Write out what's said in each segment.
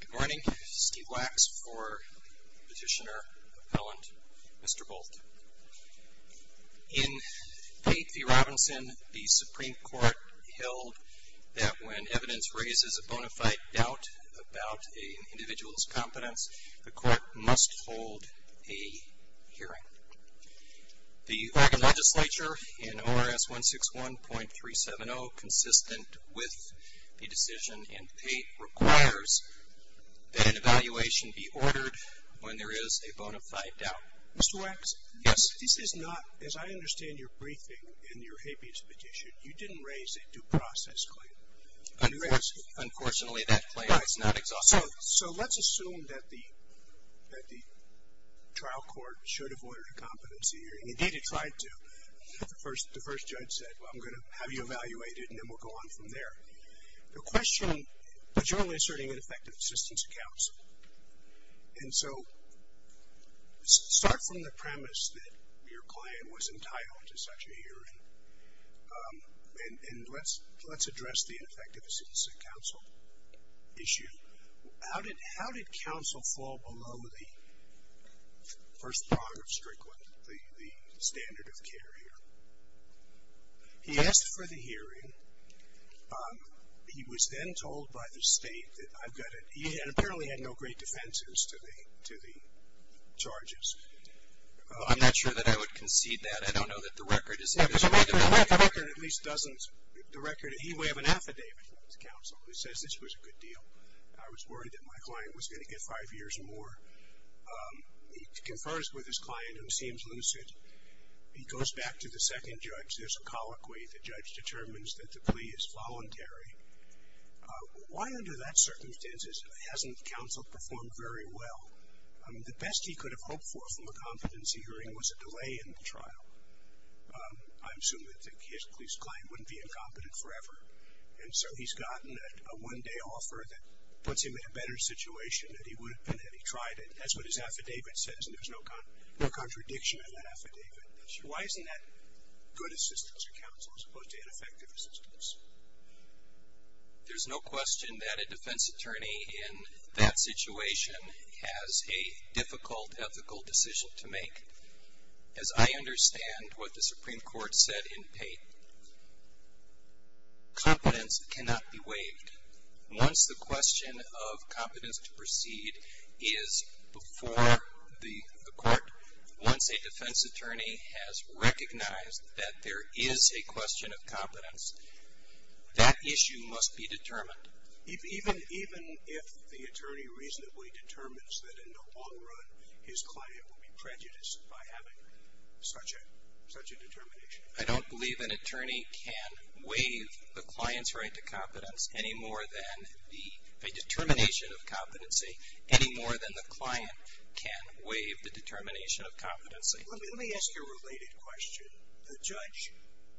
Good morning, Steve Wax for Petitioner Appellant Mr. Bolt. In Pate v. Robinson, the Supreme Court held that when evidence raises a bona fide doubt about an individual's competence, the court must hold a hearing. The Oregon Legislature in ORS 161.370, consistent with the decision in Pate, requires that an evaluation be ordered when there is a bona fide doubt. Mr. Wax? Yes. This is not, as I understand your briefing in your habeas petition, you didn't raise a due process claim. I did. Unfortunately, that claim is not exhaustive. So let's assume that the trial court should have ordered a competency hearing. Indeed, it tried to. The first judge said, well, I'm going to have you evaluated and then we'll go on from there. The question, but you're only asserting ineffective assistance to counsel. And so, start from the premise that your claim was entitled to such a hearing. And let's address the ineffective assistance to counsel issue. How did counsel fall below the first judge? He was then told by the state that I've got a, he had apparently had no great defenses to the, to the charges. I'm not sure that I would concede that. I don't know that the record is. The record at least doesn't, the record, he may have an affidavit to counsel that says this was a good deal. I was worried that my client was going to get five years or more. He confers with his client, who seems lucid. He goes back to the second judge. There's a colloquy. The judge determines that the plea is voluntary. Why under that circumstances hasn't counsel performed very well? The best he could have hoped for from a competency hearing was a delay in the trial. I assume that his, his client wouldn't be incompetent forever. And so, he's gotten a one-day offer that puts him in a better situation than he would have been had he tried it. That's what his affidavit says, and there's no contradiction in that affidavit. Why isn't that good assistance to counsel as opposed to ineffective assistance? There's no question that a defense attorney in that situation has a difficult ethical decision to make. As I understand what the Supreme Court said in Pate, competence cannot be waived. Once the question of competence to proceed is before the court, once a defense attorney has recognized that there is a question of competence, that issue must be determined. Even, even if the attorney reasonably determines that in the long run his client will be prejudiced by having such a, such a determination? I don't believe an attorney can waive the client's right to competence any more than the, a determination of competency any more than the client can waive the determination of competency. Let me, let me ask you a related question. The judge,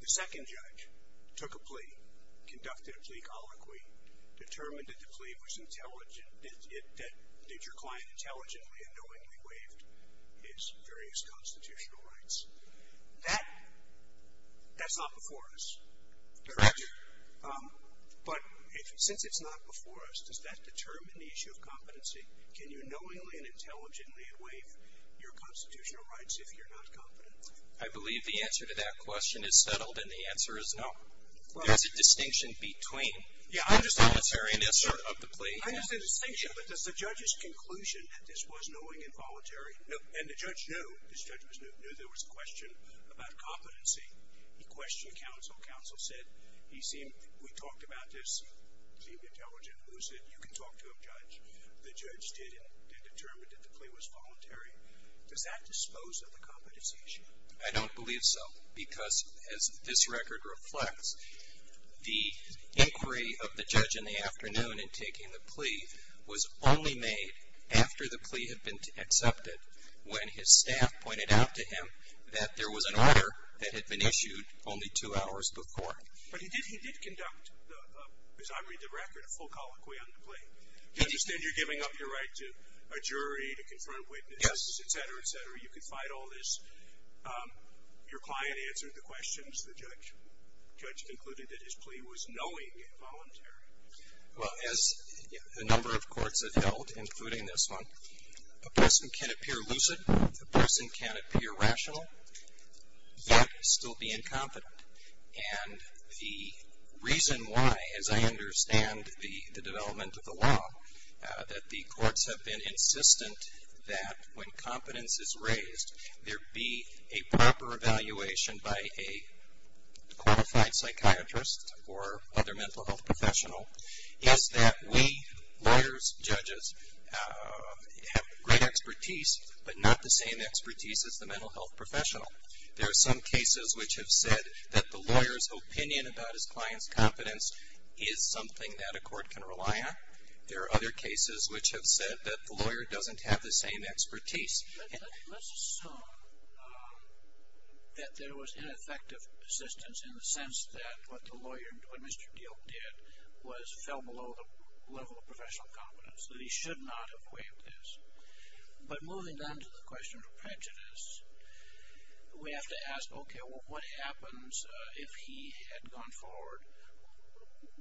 the second judge, took a plea, conducted a plea colloquy, determined that the plea was intelligent, that, that, that your client intelligently and knowingly waived his various constitutional rights. That, that's not before us. Correct. But, since it's not before us, does that determine the issue of competency? Can you knowingly and intelligently waive your constitutional rights if you're not competent? I believe the answer to that question is settled and the answer is no. There's a distinction between. Yeah, I understand. The voluntariness of the plea. I understand the distinction, but does the judge's conclusion that this was knowing and said, he seemed, we talked about this, seemed intelligent. Who's it? You can talk to a judge. The judge did, did determine that the plea was voluntary. Does that dispose of the competency issue? I don't believe so because as this record reflects, the inquiry of the judge in the afternoon in taking the plea was only made after the plea had been accepted when his lawyer had been issued only two hours before. But he did, he did conduct, as I read the record, a full colloquy on the plea. He did. I understand you're giving up your right to a jury, to confront witnesses. Yes. Et cetera, et cetera. You can fight all this. Your client answered the questions. The judge, the judge concluded that his plea was knowing and voluntary. Well, as a number of courts have held, including this one, a person can appear lucid, a person can appear rational, yet still be incompetent. And the reason why, as I understand the development of the law, that the courts have been insistent that when competence is raised, there be a proper evaluation by a qualified psychiatrist or other mental health professional, is that we, lawyers, judges, have great expertise, but not the same expertise as the mental health professional. There are some cases which have said that the lawyer's opinion about his client's competence is something that a court can rely on. There are other cases which have said that the lawyer doesn't have the same expertise. But let's assume that there was ineffective assistance in the sense that what the lawyer, what Mr. Diehl did was fell below the level of professional competence, that he should not have waived this. But moving on to the question of prejudice, we have to ask, okay, what happens if he had gone forward?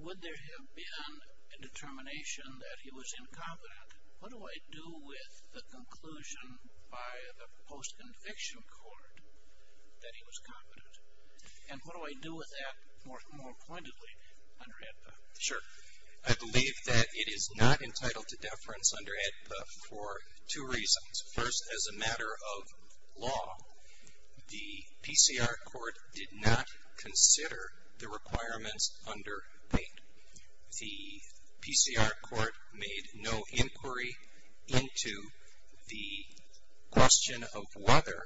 Would there have been a determination that he was incompetent? What do I do with the conclusion by the post-conviction court that he was competent? And what do I do with that more pointedly under AEDPA? Sure. I believe that it is not entitled to deference under AEDPA for two reasons. First, as a matter of law, the PCR court did not consider the requirements under 8. The PCR court made no inquiry into the question of whether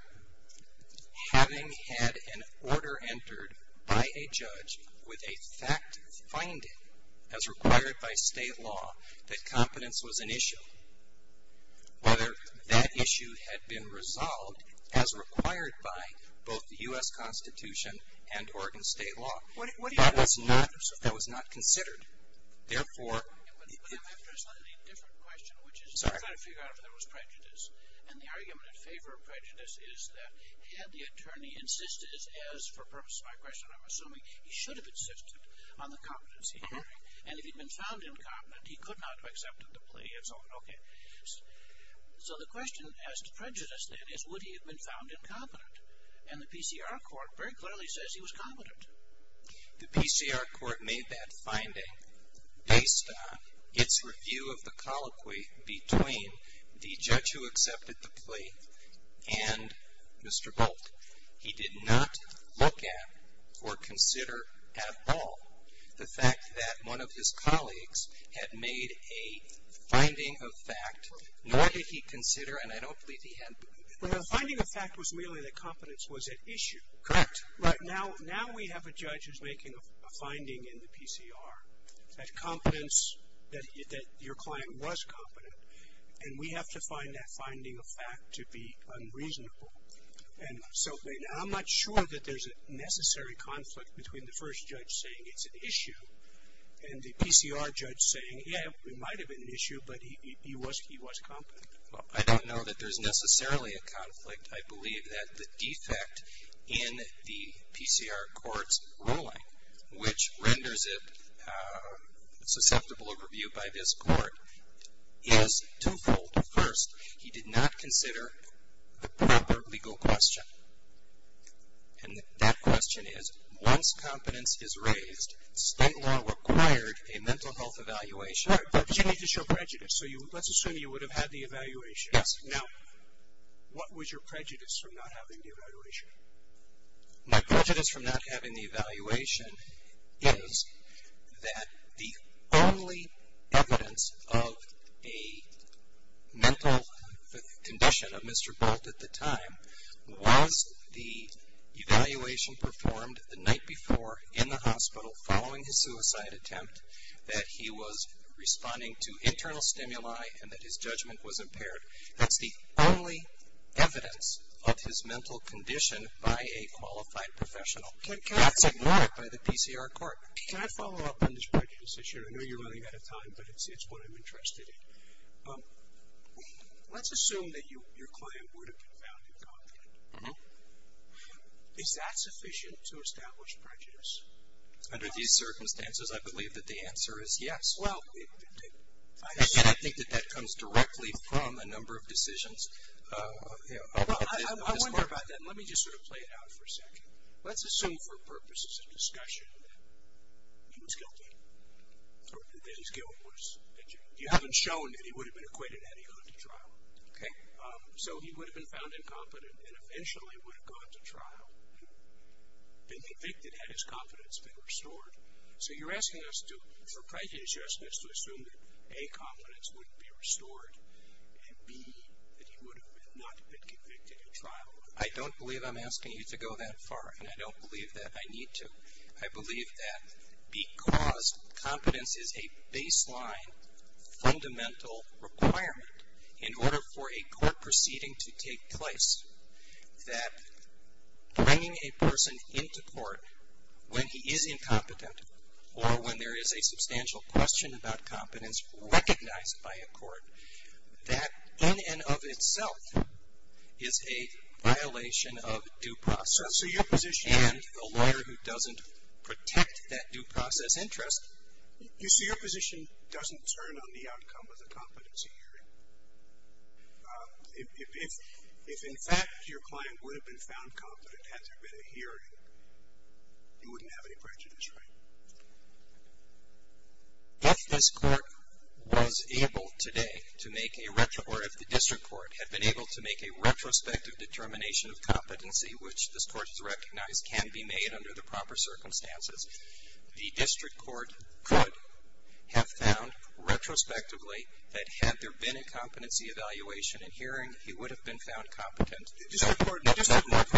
having had an order entered by a judge with a fact finding as required by state law that competence was an issue, whether that issue had been resolved as required by both the U.S. Constitution and Oregon state law. That was not considered. Therefore... But I'm interested in a different question, which is, I'm trying to figure out if there was prejudice. And the argument in favor of prejudice is that had the attorney insisted, as for purpose of my question, I'm assuming, he should have insisted on the competency hearing. And if he'd been found incompetent, he could not have accepted the plea and so on. Okay. So the question as to prejudice, then, is would he have been found incompetent? And the PCR court very clearly says he was competent. The PCR court made that finding based on its review of the colloquy between the judge who accepted the plea and Mr. Bolt. He did not look at or consider at all the fact that one of his colleagues had made a finding of fact, nor did he consider, and I don't believe he was at issue. Correct. Now we have a judge who's making a finding in the PCR that competence, that your client was competent, and we have to find that finding of fact to be unreasonable. And so I'm not sure that there's a necessary conflict between the first judge saying it's an issue and the PCR judge saying, yeah, it might have been an issue, but he was competent. Well, I don't know that there's necessarily a conflict. I believe that the defect in the PCR court's ruling, which renders it susceptible overview by this court, is twofold. First, he did not consider the proper legal question. And that question is, once competence is raised, state law required a mental health evaluation. Sure, but you need to show prejudice. So let's assume you would have had the evaluation. Yes. Now, what was your prejudice from not having the evaluation? My prejudice from not having the evaluation is that the only evidence of a mental condition of Mr. Bolt at the time was the evaluation performed the night before in the hospital following his suicide attempt, that he was responding to internal stimuli, and that his judgment was impaired. That's the only evidence of his mental condition by a qualified professional. That's ignored by the PCR court. Can I follow up on this prejudice issue? I know you're running out of time, but it's what I'm interested in. Let's assume that your client would have been found incompetent. Mm-hmm. Is that sufficient to establish prejudice? Under these circumstances, I believe that the answer is yes. Well, I think that that comes directly from a number of decisions. Well, I wonder about that. Let me just sort of play it out for a second. Let's assume for purposes of discussion that he was guilty, or that his guilt was at judgement. You haven't shown that he would have been acquitted had he gone to trial. Okay. So he would have been found incompetent and eventually would have gone to trial and been convicted had his competence been restored. So you're asking us to, for prejudice justice, to assume that A, competence would be restored, and B, that he would have not been convicted in trial. I don't believe I'm asking you to go that far, and I don't believe that I need to. I believe that in order for a court proceeding to take place, that bringing a person into court when he is incompetent or when there is a substantial question about competence recognized by a court, that in and of itself is a violation of due process. So your position And the lawyer who doesn't protect that due process interest You see, your position doesn't turn on the outcome of the competency hearing. If, in fact, your client would have been found competent had there been a hearing, you wouldn't have any prejudice, right? If this court was able today to make a, or if the district court had been able to make a retrospective determination of competency, which this court has recognized can be made under the proper circumstances, the district court could have found retrospectively that had there been a competency evaluation and hearing, he would have been found competent. The district court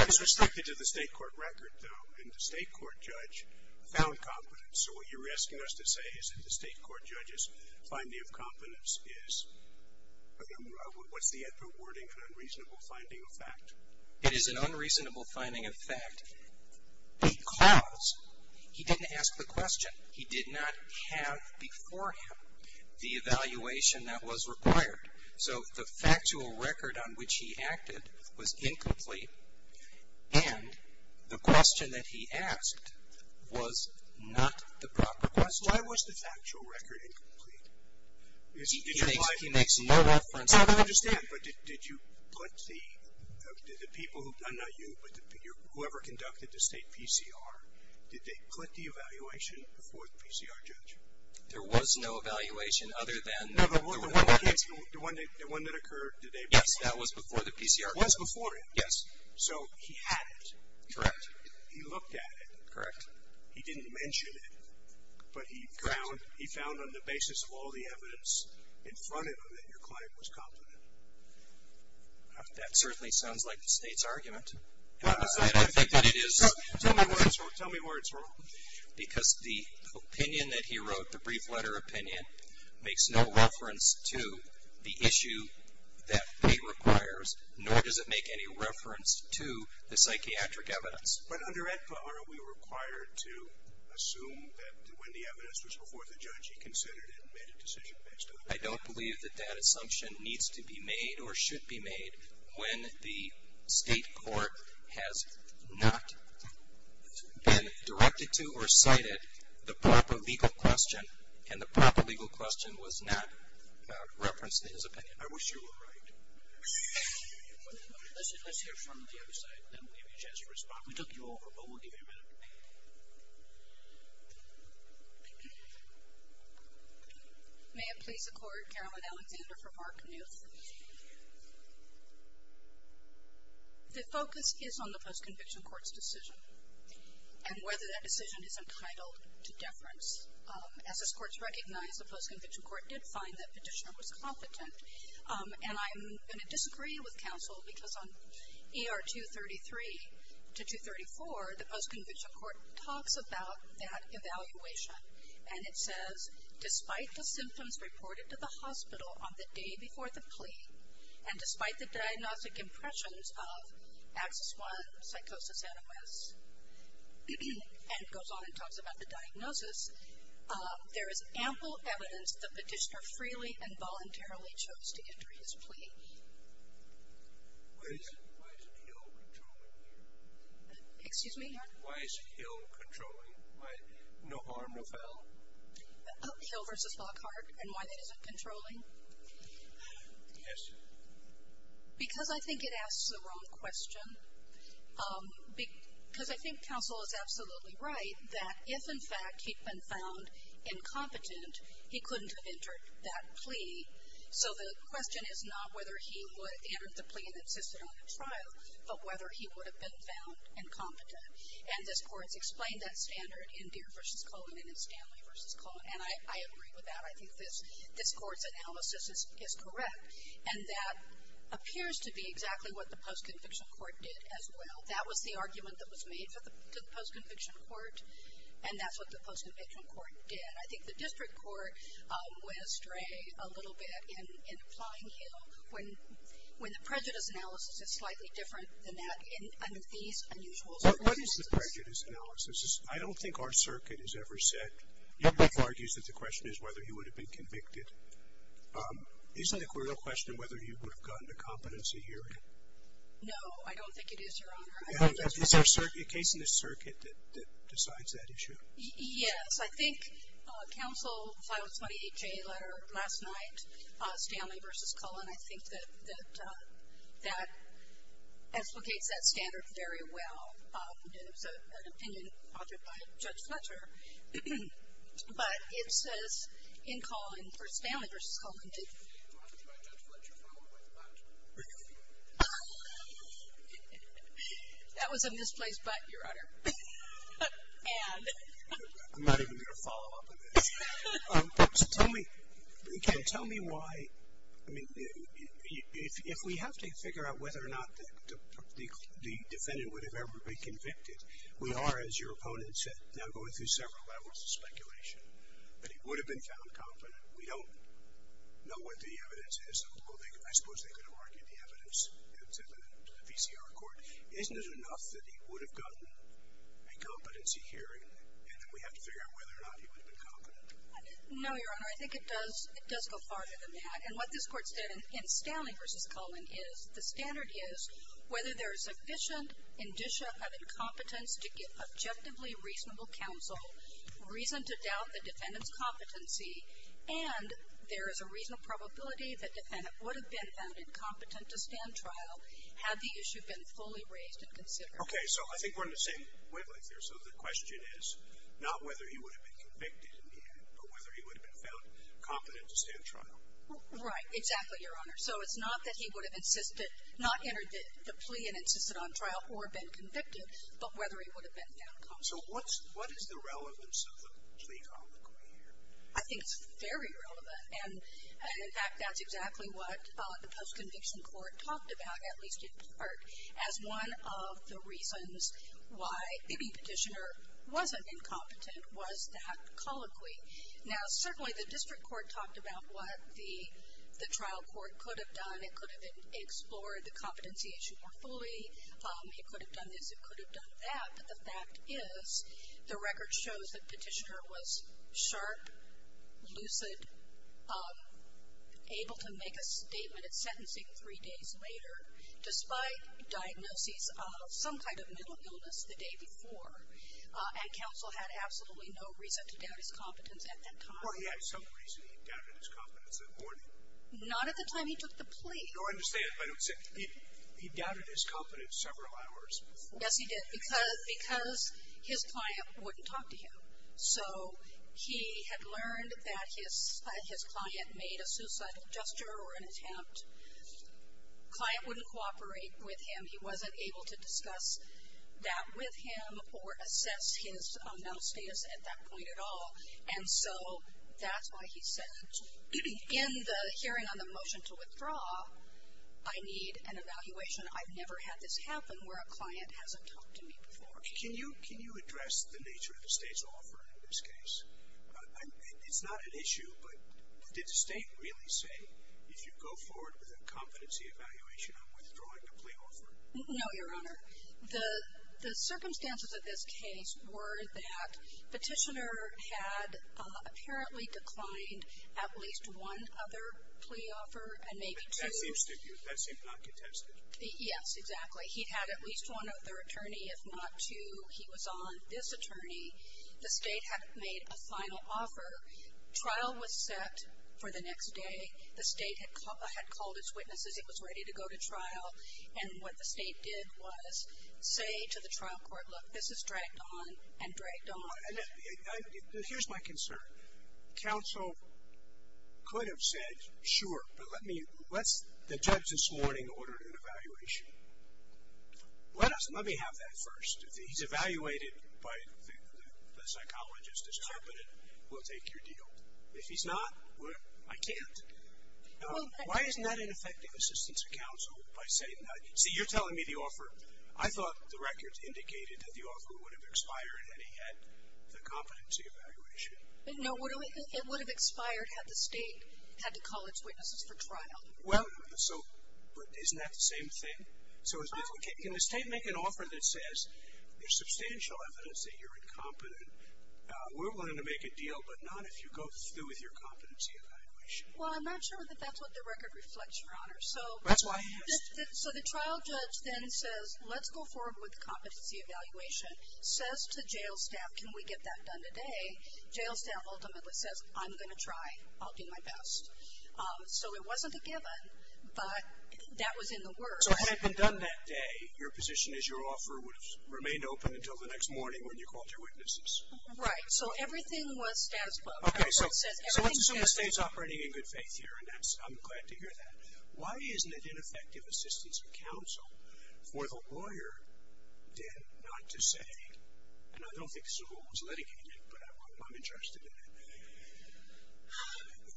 is restricted to the state court record, though, and the state court judge found competence. So what you're asking us to say is that the state court judge's finding of competence is, what's the appropriate wording, an unreasonable finding of fact? It is an unreasonable finding of fact. Because he didn't ask the question. He did not have before him the evaluation that was required. So the factual record on which he acted was incomplete, and the question that he asked was not the proper question. Why was the factual record incomplete? He makes no reference. I don't understand. But did you put the people who, not you, but whoever conducted the state PCR, did they put the evaluation before the PCR judge? There was no evaluation other than the one that occurred. Yes, that was before the PCR judge. It was before him. Yes. So he had it. Correct. He looked at it. Correct. He didn't mention it, but he found on the basis of all the evidence in front of him that your client was competent. That certainly sounds like the state's argument. I think that it is. Tell me where it's wrong. Tell me where it's wrong. Because the opinion that he wrote, the brief letter opinion, makes no reference to the issue that pay requires, nor does it make any reference to the psychiatric evidence. But under Ed Butler, are we required to assume that when the evidence was before the judge, he considered it and made a decision based on it? I don't believe that that assumption needs to be made or should be made when the state court has not been directed to or cited the proper legal question, and the proper legal question was not referenced in his opinion. I wish you were right. Let's hear from the other side, then we'll give you a chance to respond. We took you over, but we'll give you a minute. May it please the Court, Caroline Alexander for Mark Knuth. The focus is on the post-conviction court's decision and whether that decision is entitled to deference. As this Court has recognized, the post-conviction court did find that Petitioner was competent, and I'm going to disagree with counsel because on ER 233 to 234, the post-conviction court talks about that evaluation, and it says, despite the symptoms reported to the hospital on the day before the plea, and despite the diagnostic impressions of Axis I psychosis animus, and it goes on and talks about the diagnosis, there is ample evidence that Petitioner freely and voluntarily chose to enter his plea. Why isn't Hill controlling here? Excuse me? Why isn't Hill controlling? No harm, no foul? Hill versus Lockhart and why that isn't controlling? Yes. Because I think it asks the wrong question. Because I think counsel is absolutely right that if, in fact, he'd been found incompetent, he couldn't have entered that plea. So the question is not whether he would have entered the plea and insisted on the trial, but whether he would have been found incompetent. And this Court has explained that standard in Deere v. Cohen and in Stanley v. Cohen, and I agree with that. I think this Court's analysis is correct, and that appears to be exactly what the post-conviction court did as well. That was the argument that was made to the post-conviction court, and that's what the post-conviction court did. And I think the district court went astray a little bit in applying Hill when the prejudice analysis is slightly different than that in these unusual circumstances. What is the prejudice analysis? I don't think our circuit has ever said. Your brief argues that the question is whether he would have been convicted. Isn't it a question of whether he would have gotten the competency hearing? No, I don't think it is, Your Honor. Is there a case in the circuit that decides that issue? Yes. I think counsel filed a 28-J letter last night, Stanley v. Cohen. I think that that explicates that standard very well. It was an opinion authored by Judge Fletcher. But it says in Cohen, or Stanley v. Cohen did. It was an opinion authored by Judge Fletcher followed by Butt. That was a misplaced Butt, Your Honor. And? I'm not even going to follow up on this. So tell me, Ken, tell me why, I mean, if we have to figure out whether or not the defendant would have ever been convicted, we are, as your opponent said, now going through several levels of speculation, that he would have been found competent. We don't know what the evidence is. I suppose they could have argued the evidence to the VCR court. Isn't it enough that he would have gotten a competency hearing and that we have to figure out whether or not he would have been competent? No, Your Honor. I think it does go farther than that. And what this Court said in Stanley v. Cohen is the standard is whether there is sufficient indicia of competence to give objectively reasonable counsel, reason to doubt the defendant's competency, and there is a reasonable probability that the defendant would have been found incompetent to stand trial had the issue been fully raised and considered. Okay. So I think we're in the same wavelength here. So the question is not whether he would have been convicted in the end, but whether he would have been found competent to stand trial. Right. Exactly, Your Honor. So it's not that he would have insisted, not entered the plea and insisted on trial or been convicted, but whether he would have been found competent. So what's the relevance of the plea comment we hear? I think it's very relevant. And, in fact, that's exactly what the post-conviction court talked about, at least in part, as one of the reasons why any petitioner wasn't incompetent was that colloquy. Now, certainly the district court talked about what the trial court could have done. It could have explored the competentiation more fully. It could have done this. It could have done that. But the fact is the record shows that the petitioner was sharp, lucid, able to make a statement at sentencing three days later, despite diagnoses of some kind of mental illness the day before, and counsel had absolutely no reason to doubt his competence at that time. Or he had some reason he doubted his competence that morning. Not at the time he took the plea. No, I understand, but he doubted his competence several hours before. Yes, he did, because his client wouldn't talk to him. So he had learned that his client made a suicidal gesture or an attempt. Client wouldn't cooperate with him. He wasn't able to discuss that with him or assess his mental status at that point at all. And so that's why he said, in the hearing on the motion to withdraw, I need an evaluation. I've never had this happen where a client hasn't talked to me before. Can you address the nature of the State's offer in this case? It's not an issue, but did the State really say, if you go forward with a competency evaluation, I'm withdrawing the plea offer? No, Your Honor. The circumstances of this case were that petitioner had apparently declined at least one other plea offer and maybe two. That seems not contested. Yes, exactly. He had at least one other attorney, if not two. He was on this attorney. The State had made a final offer. Trial was set for the next day. The State had called its witnesses. It was ready to go to trial. And what the State did was say to the trial court, look, this is dragged on and dragged on. Here's my concern. Counsel could have said, sure, but let's the judge this morning order an evaluation. Let me have that first. If he's evaluated by the psychologist as competent, we'll take your deal. If he's not, I can't. Why isn't that an effective assistance to counsel by saying that? See, you're telling me the offer. I thought the records indicated that the offer would have expired and he had the competency evaluation. No, it would have expired had the State had to call its witnesses for trial. But isn't that the same thing? Can the State make an offer that says there's substantial evidence that you're incompetent. We're willing to make a deal, but not if you go through with your competency evaluation. Well, I'm not sure that that's what the record reflects, Your Honor. That's why I asked. So the trial judge then says, let's go forward with competency evaluation, says to jail staff, can we get that done today? Jail staff ultimately says, I'm going to try. I'll do my best. So it wasn't a given, but that was in the works. So had it been done that day, your position is your offer would have remained open until the next morning when you called your witnesses. Right. So everything was status quo. Okay, so let's assume the State's operating in good faith here, and I'm glad to hear that. Why isn't it ineffective assistance of counsel for the lawyer then not to say, and I don't think Seval was litigated, but I'm interested in it.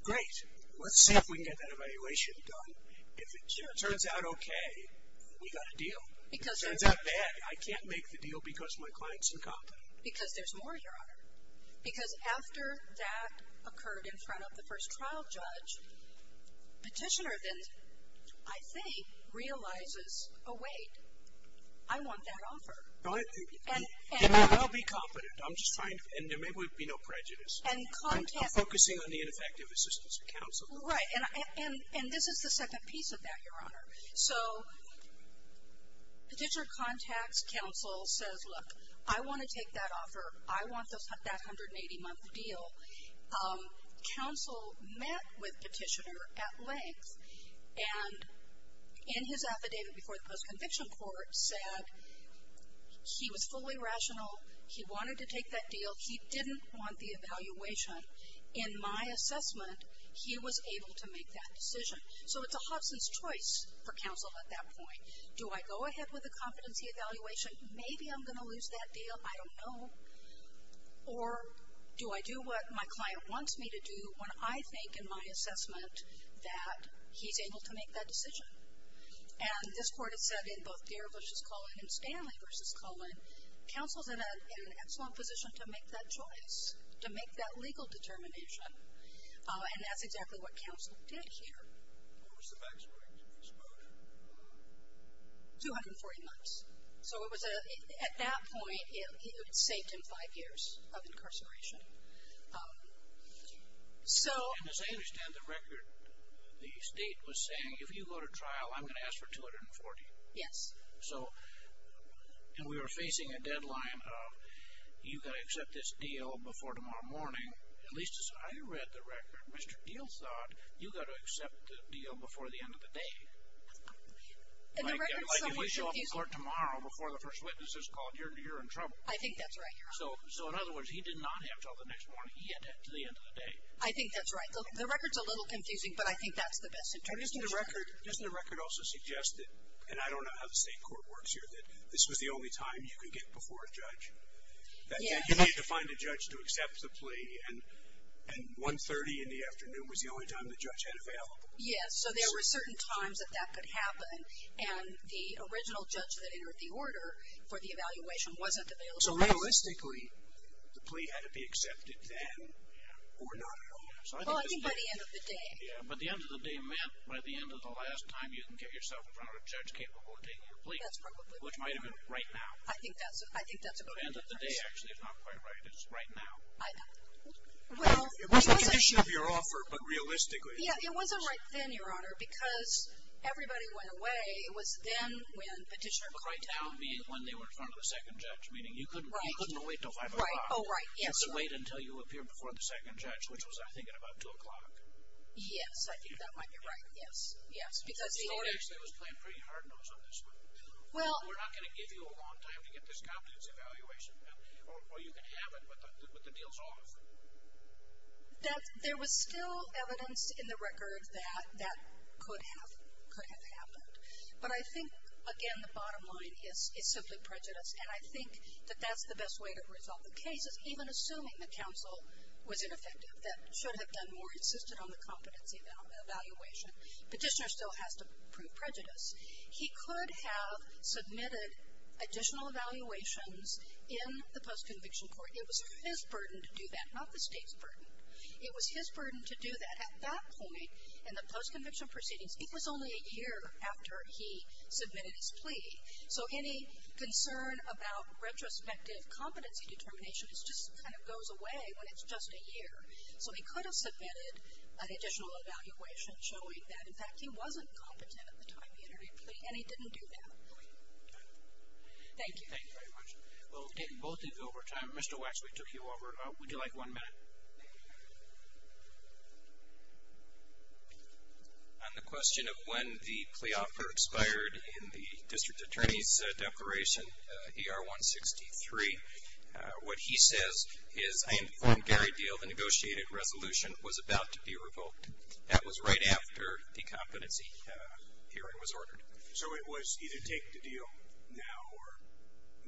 Great. Let's see if we can get that evaluation done. If it turns out okay, we got a deal. If it turns out bad, I can't make the deal because my client's incompetent. Because there's more, Your Honor. Because after that occurred in front of the first trial judge, petitioner then, I think, realizes, oh, wait, I want that offer. And I'll be competent. I'm just trying to, and there may be no prejudice. I'm focusing on the ineffective assistance of counsel. Right, and this is the second piece of that, Your Honor. So petitioner contacts counsel, says, look, I want to take that offer. I want that 180-month deal. Counsel met with petitioner at length, and in his affidavit before the post-conviction court said he was fully rational. He wanted to take that deal. He didn't want the evaluation. In my assessment, he was able to make that decision. So it's a Hobson's choice for counsel at that point. Do I go ahead with the competency evaluation? Maybe I'm going to lose that deal. I don't know. Or do I do what my client wants me to do when I think, in my assessment, that he's able to make that decision? And this court has said in both Garavish's colon and Stanley versus colon, counsel's in an excellent position to make that choice, to make that legal determination. And that's exactly what counsel did here. What was the maximum exposure? 240 months. So at that point, it saved him five years of incarceration. And as I understand the record, the state was saying, if you go to trial, I'm going to ask for 240. Yes. And we were facing a deadline of you've got to accept this deal before tomorrow morning. At least as I read the record, Mr. Deal thought, you've got to accept the deal before the end of the day. Like if we show up to court tomorrow before the first witness is called, you're in trouble. I think that's right, Your Honor. So in other words, he did not have until the next morning. He had that until the end of the day. I think that's right. The record's a little confusing, but I think that's the best interpretation. Doesn't the record also suggest that, and I don't know how the state court works here, that this was the only time you could get before a judge? That you need to find a judge to accept the plea, and 1.30 in the afternoon was the only time the judge had available? Yes. So there were certain times that that could happen, and the original judge that entered the order for the evaluation wasn't available. So realistically, the plea had to be accepted then or not at all. Well, I think by the end of the day. Yeah, but the end of the day meant by the end of the last time you can get yourself in front of a judge capable of taking your plea. That's probably right. Which might have been right now. I think that's a great difference. The end of the day actually is not quite right. It's right now. I know. Well, it wasn't. It was a condition of your offer, but realistically. Yeah, it wasn't right then, Your Honor, because everybody went away. It was then when petitioner called down. But right now being when they were in front of the second judge, meaning you couldn't wait until 5 o'clock. Right, oh, right, yes. Just wait until you appeared before the second judge, which was I think at about 2 o'clock. Yes, I think that might be right, yes, yes. Because the order. Because the order actually was playing pretty hard-nosed on this one. Well. We're not going to give you a long time to get this confidence evaluation. Or you can have it, but the deal's off. That there was still evidence in the record that that could have happened. But I think, again, the bottom line is simply prejudice. And I think that that's the best way to resolve the case, is even assuming the counsel was ineffective, that should have done more, insisted on the confidence evaluation. Petitioner still has to prove prejudice. He could have submitted additional evaluations in the post-conviction court. It was his burden to do that, not the state's burden. It was his burden to do that. At that point in the post-conviction proceedings, it was only a year after he submitted his plea. So any concern about retrospective competency determination just kind of goes away when it's just a year. So he could have submitted an additional evaluation showing that, in fact, he wasn't competent at the time he entered a plea, and he didn't do that. Thank you. Thank you very much. We'll take both of you over time. Mr. Waxley took you over. Would you like one minute? On the question of when the plea offer expired in the district attorney's declaration, ER-163, what he says is, I informed Gary Deal the negotiated resolution was about to be revoked. That was right after the competency hearing was ordered. So it was either take the deal now or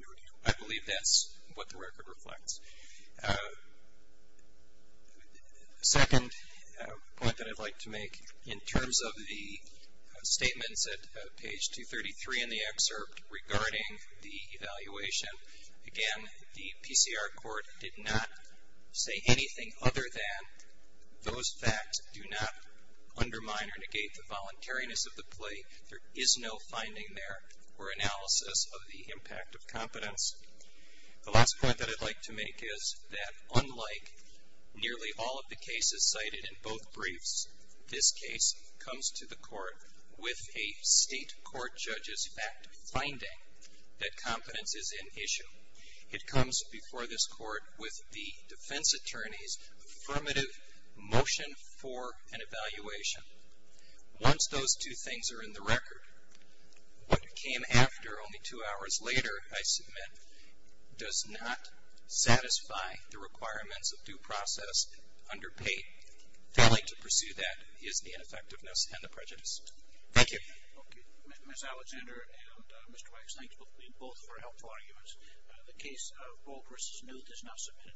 no deal. I believe that's what the record reflects. Second point that I'd like to make in terms of the statements at page 233 in the excerpt regarding the evaluation, again, the PCR court did not say anything other than those facts do not undermine or negate the voluntariness of the plea. There is no finding there or analysis of the impact of competence. The last point that I'd like to make is that unlike nearly all of the cases cited in both briefs, this case comes to the court with a state court judge's fact finding that competence is an issue. It comes before this court with the defense attorney's affirmative motion for an evaluation. Once those two things are in the record, what came after only two hours later, I submit, does not satisfy the requirements of due process under pay. I'd like to pursue that is the ineffectiveness and the prejudice. Thank you. Okay. Ms. Alexander and Mr. Weiss, thanks both for helpful arguments. The case of Ball v. Newt is now submitted.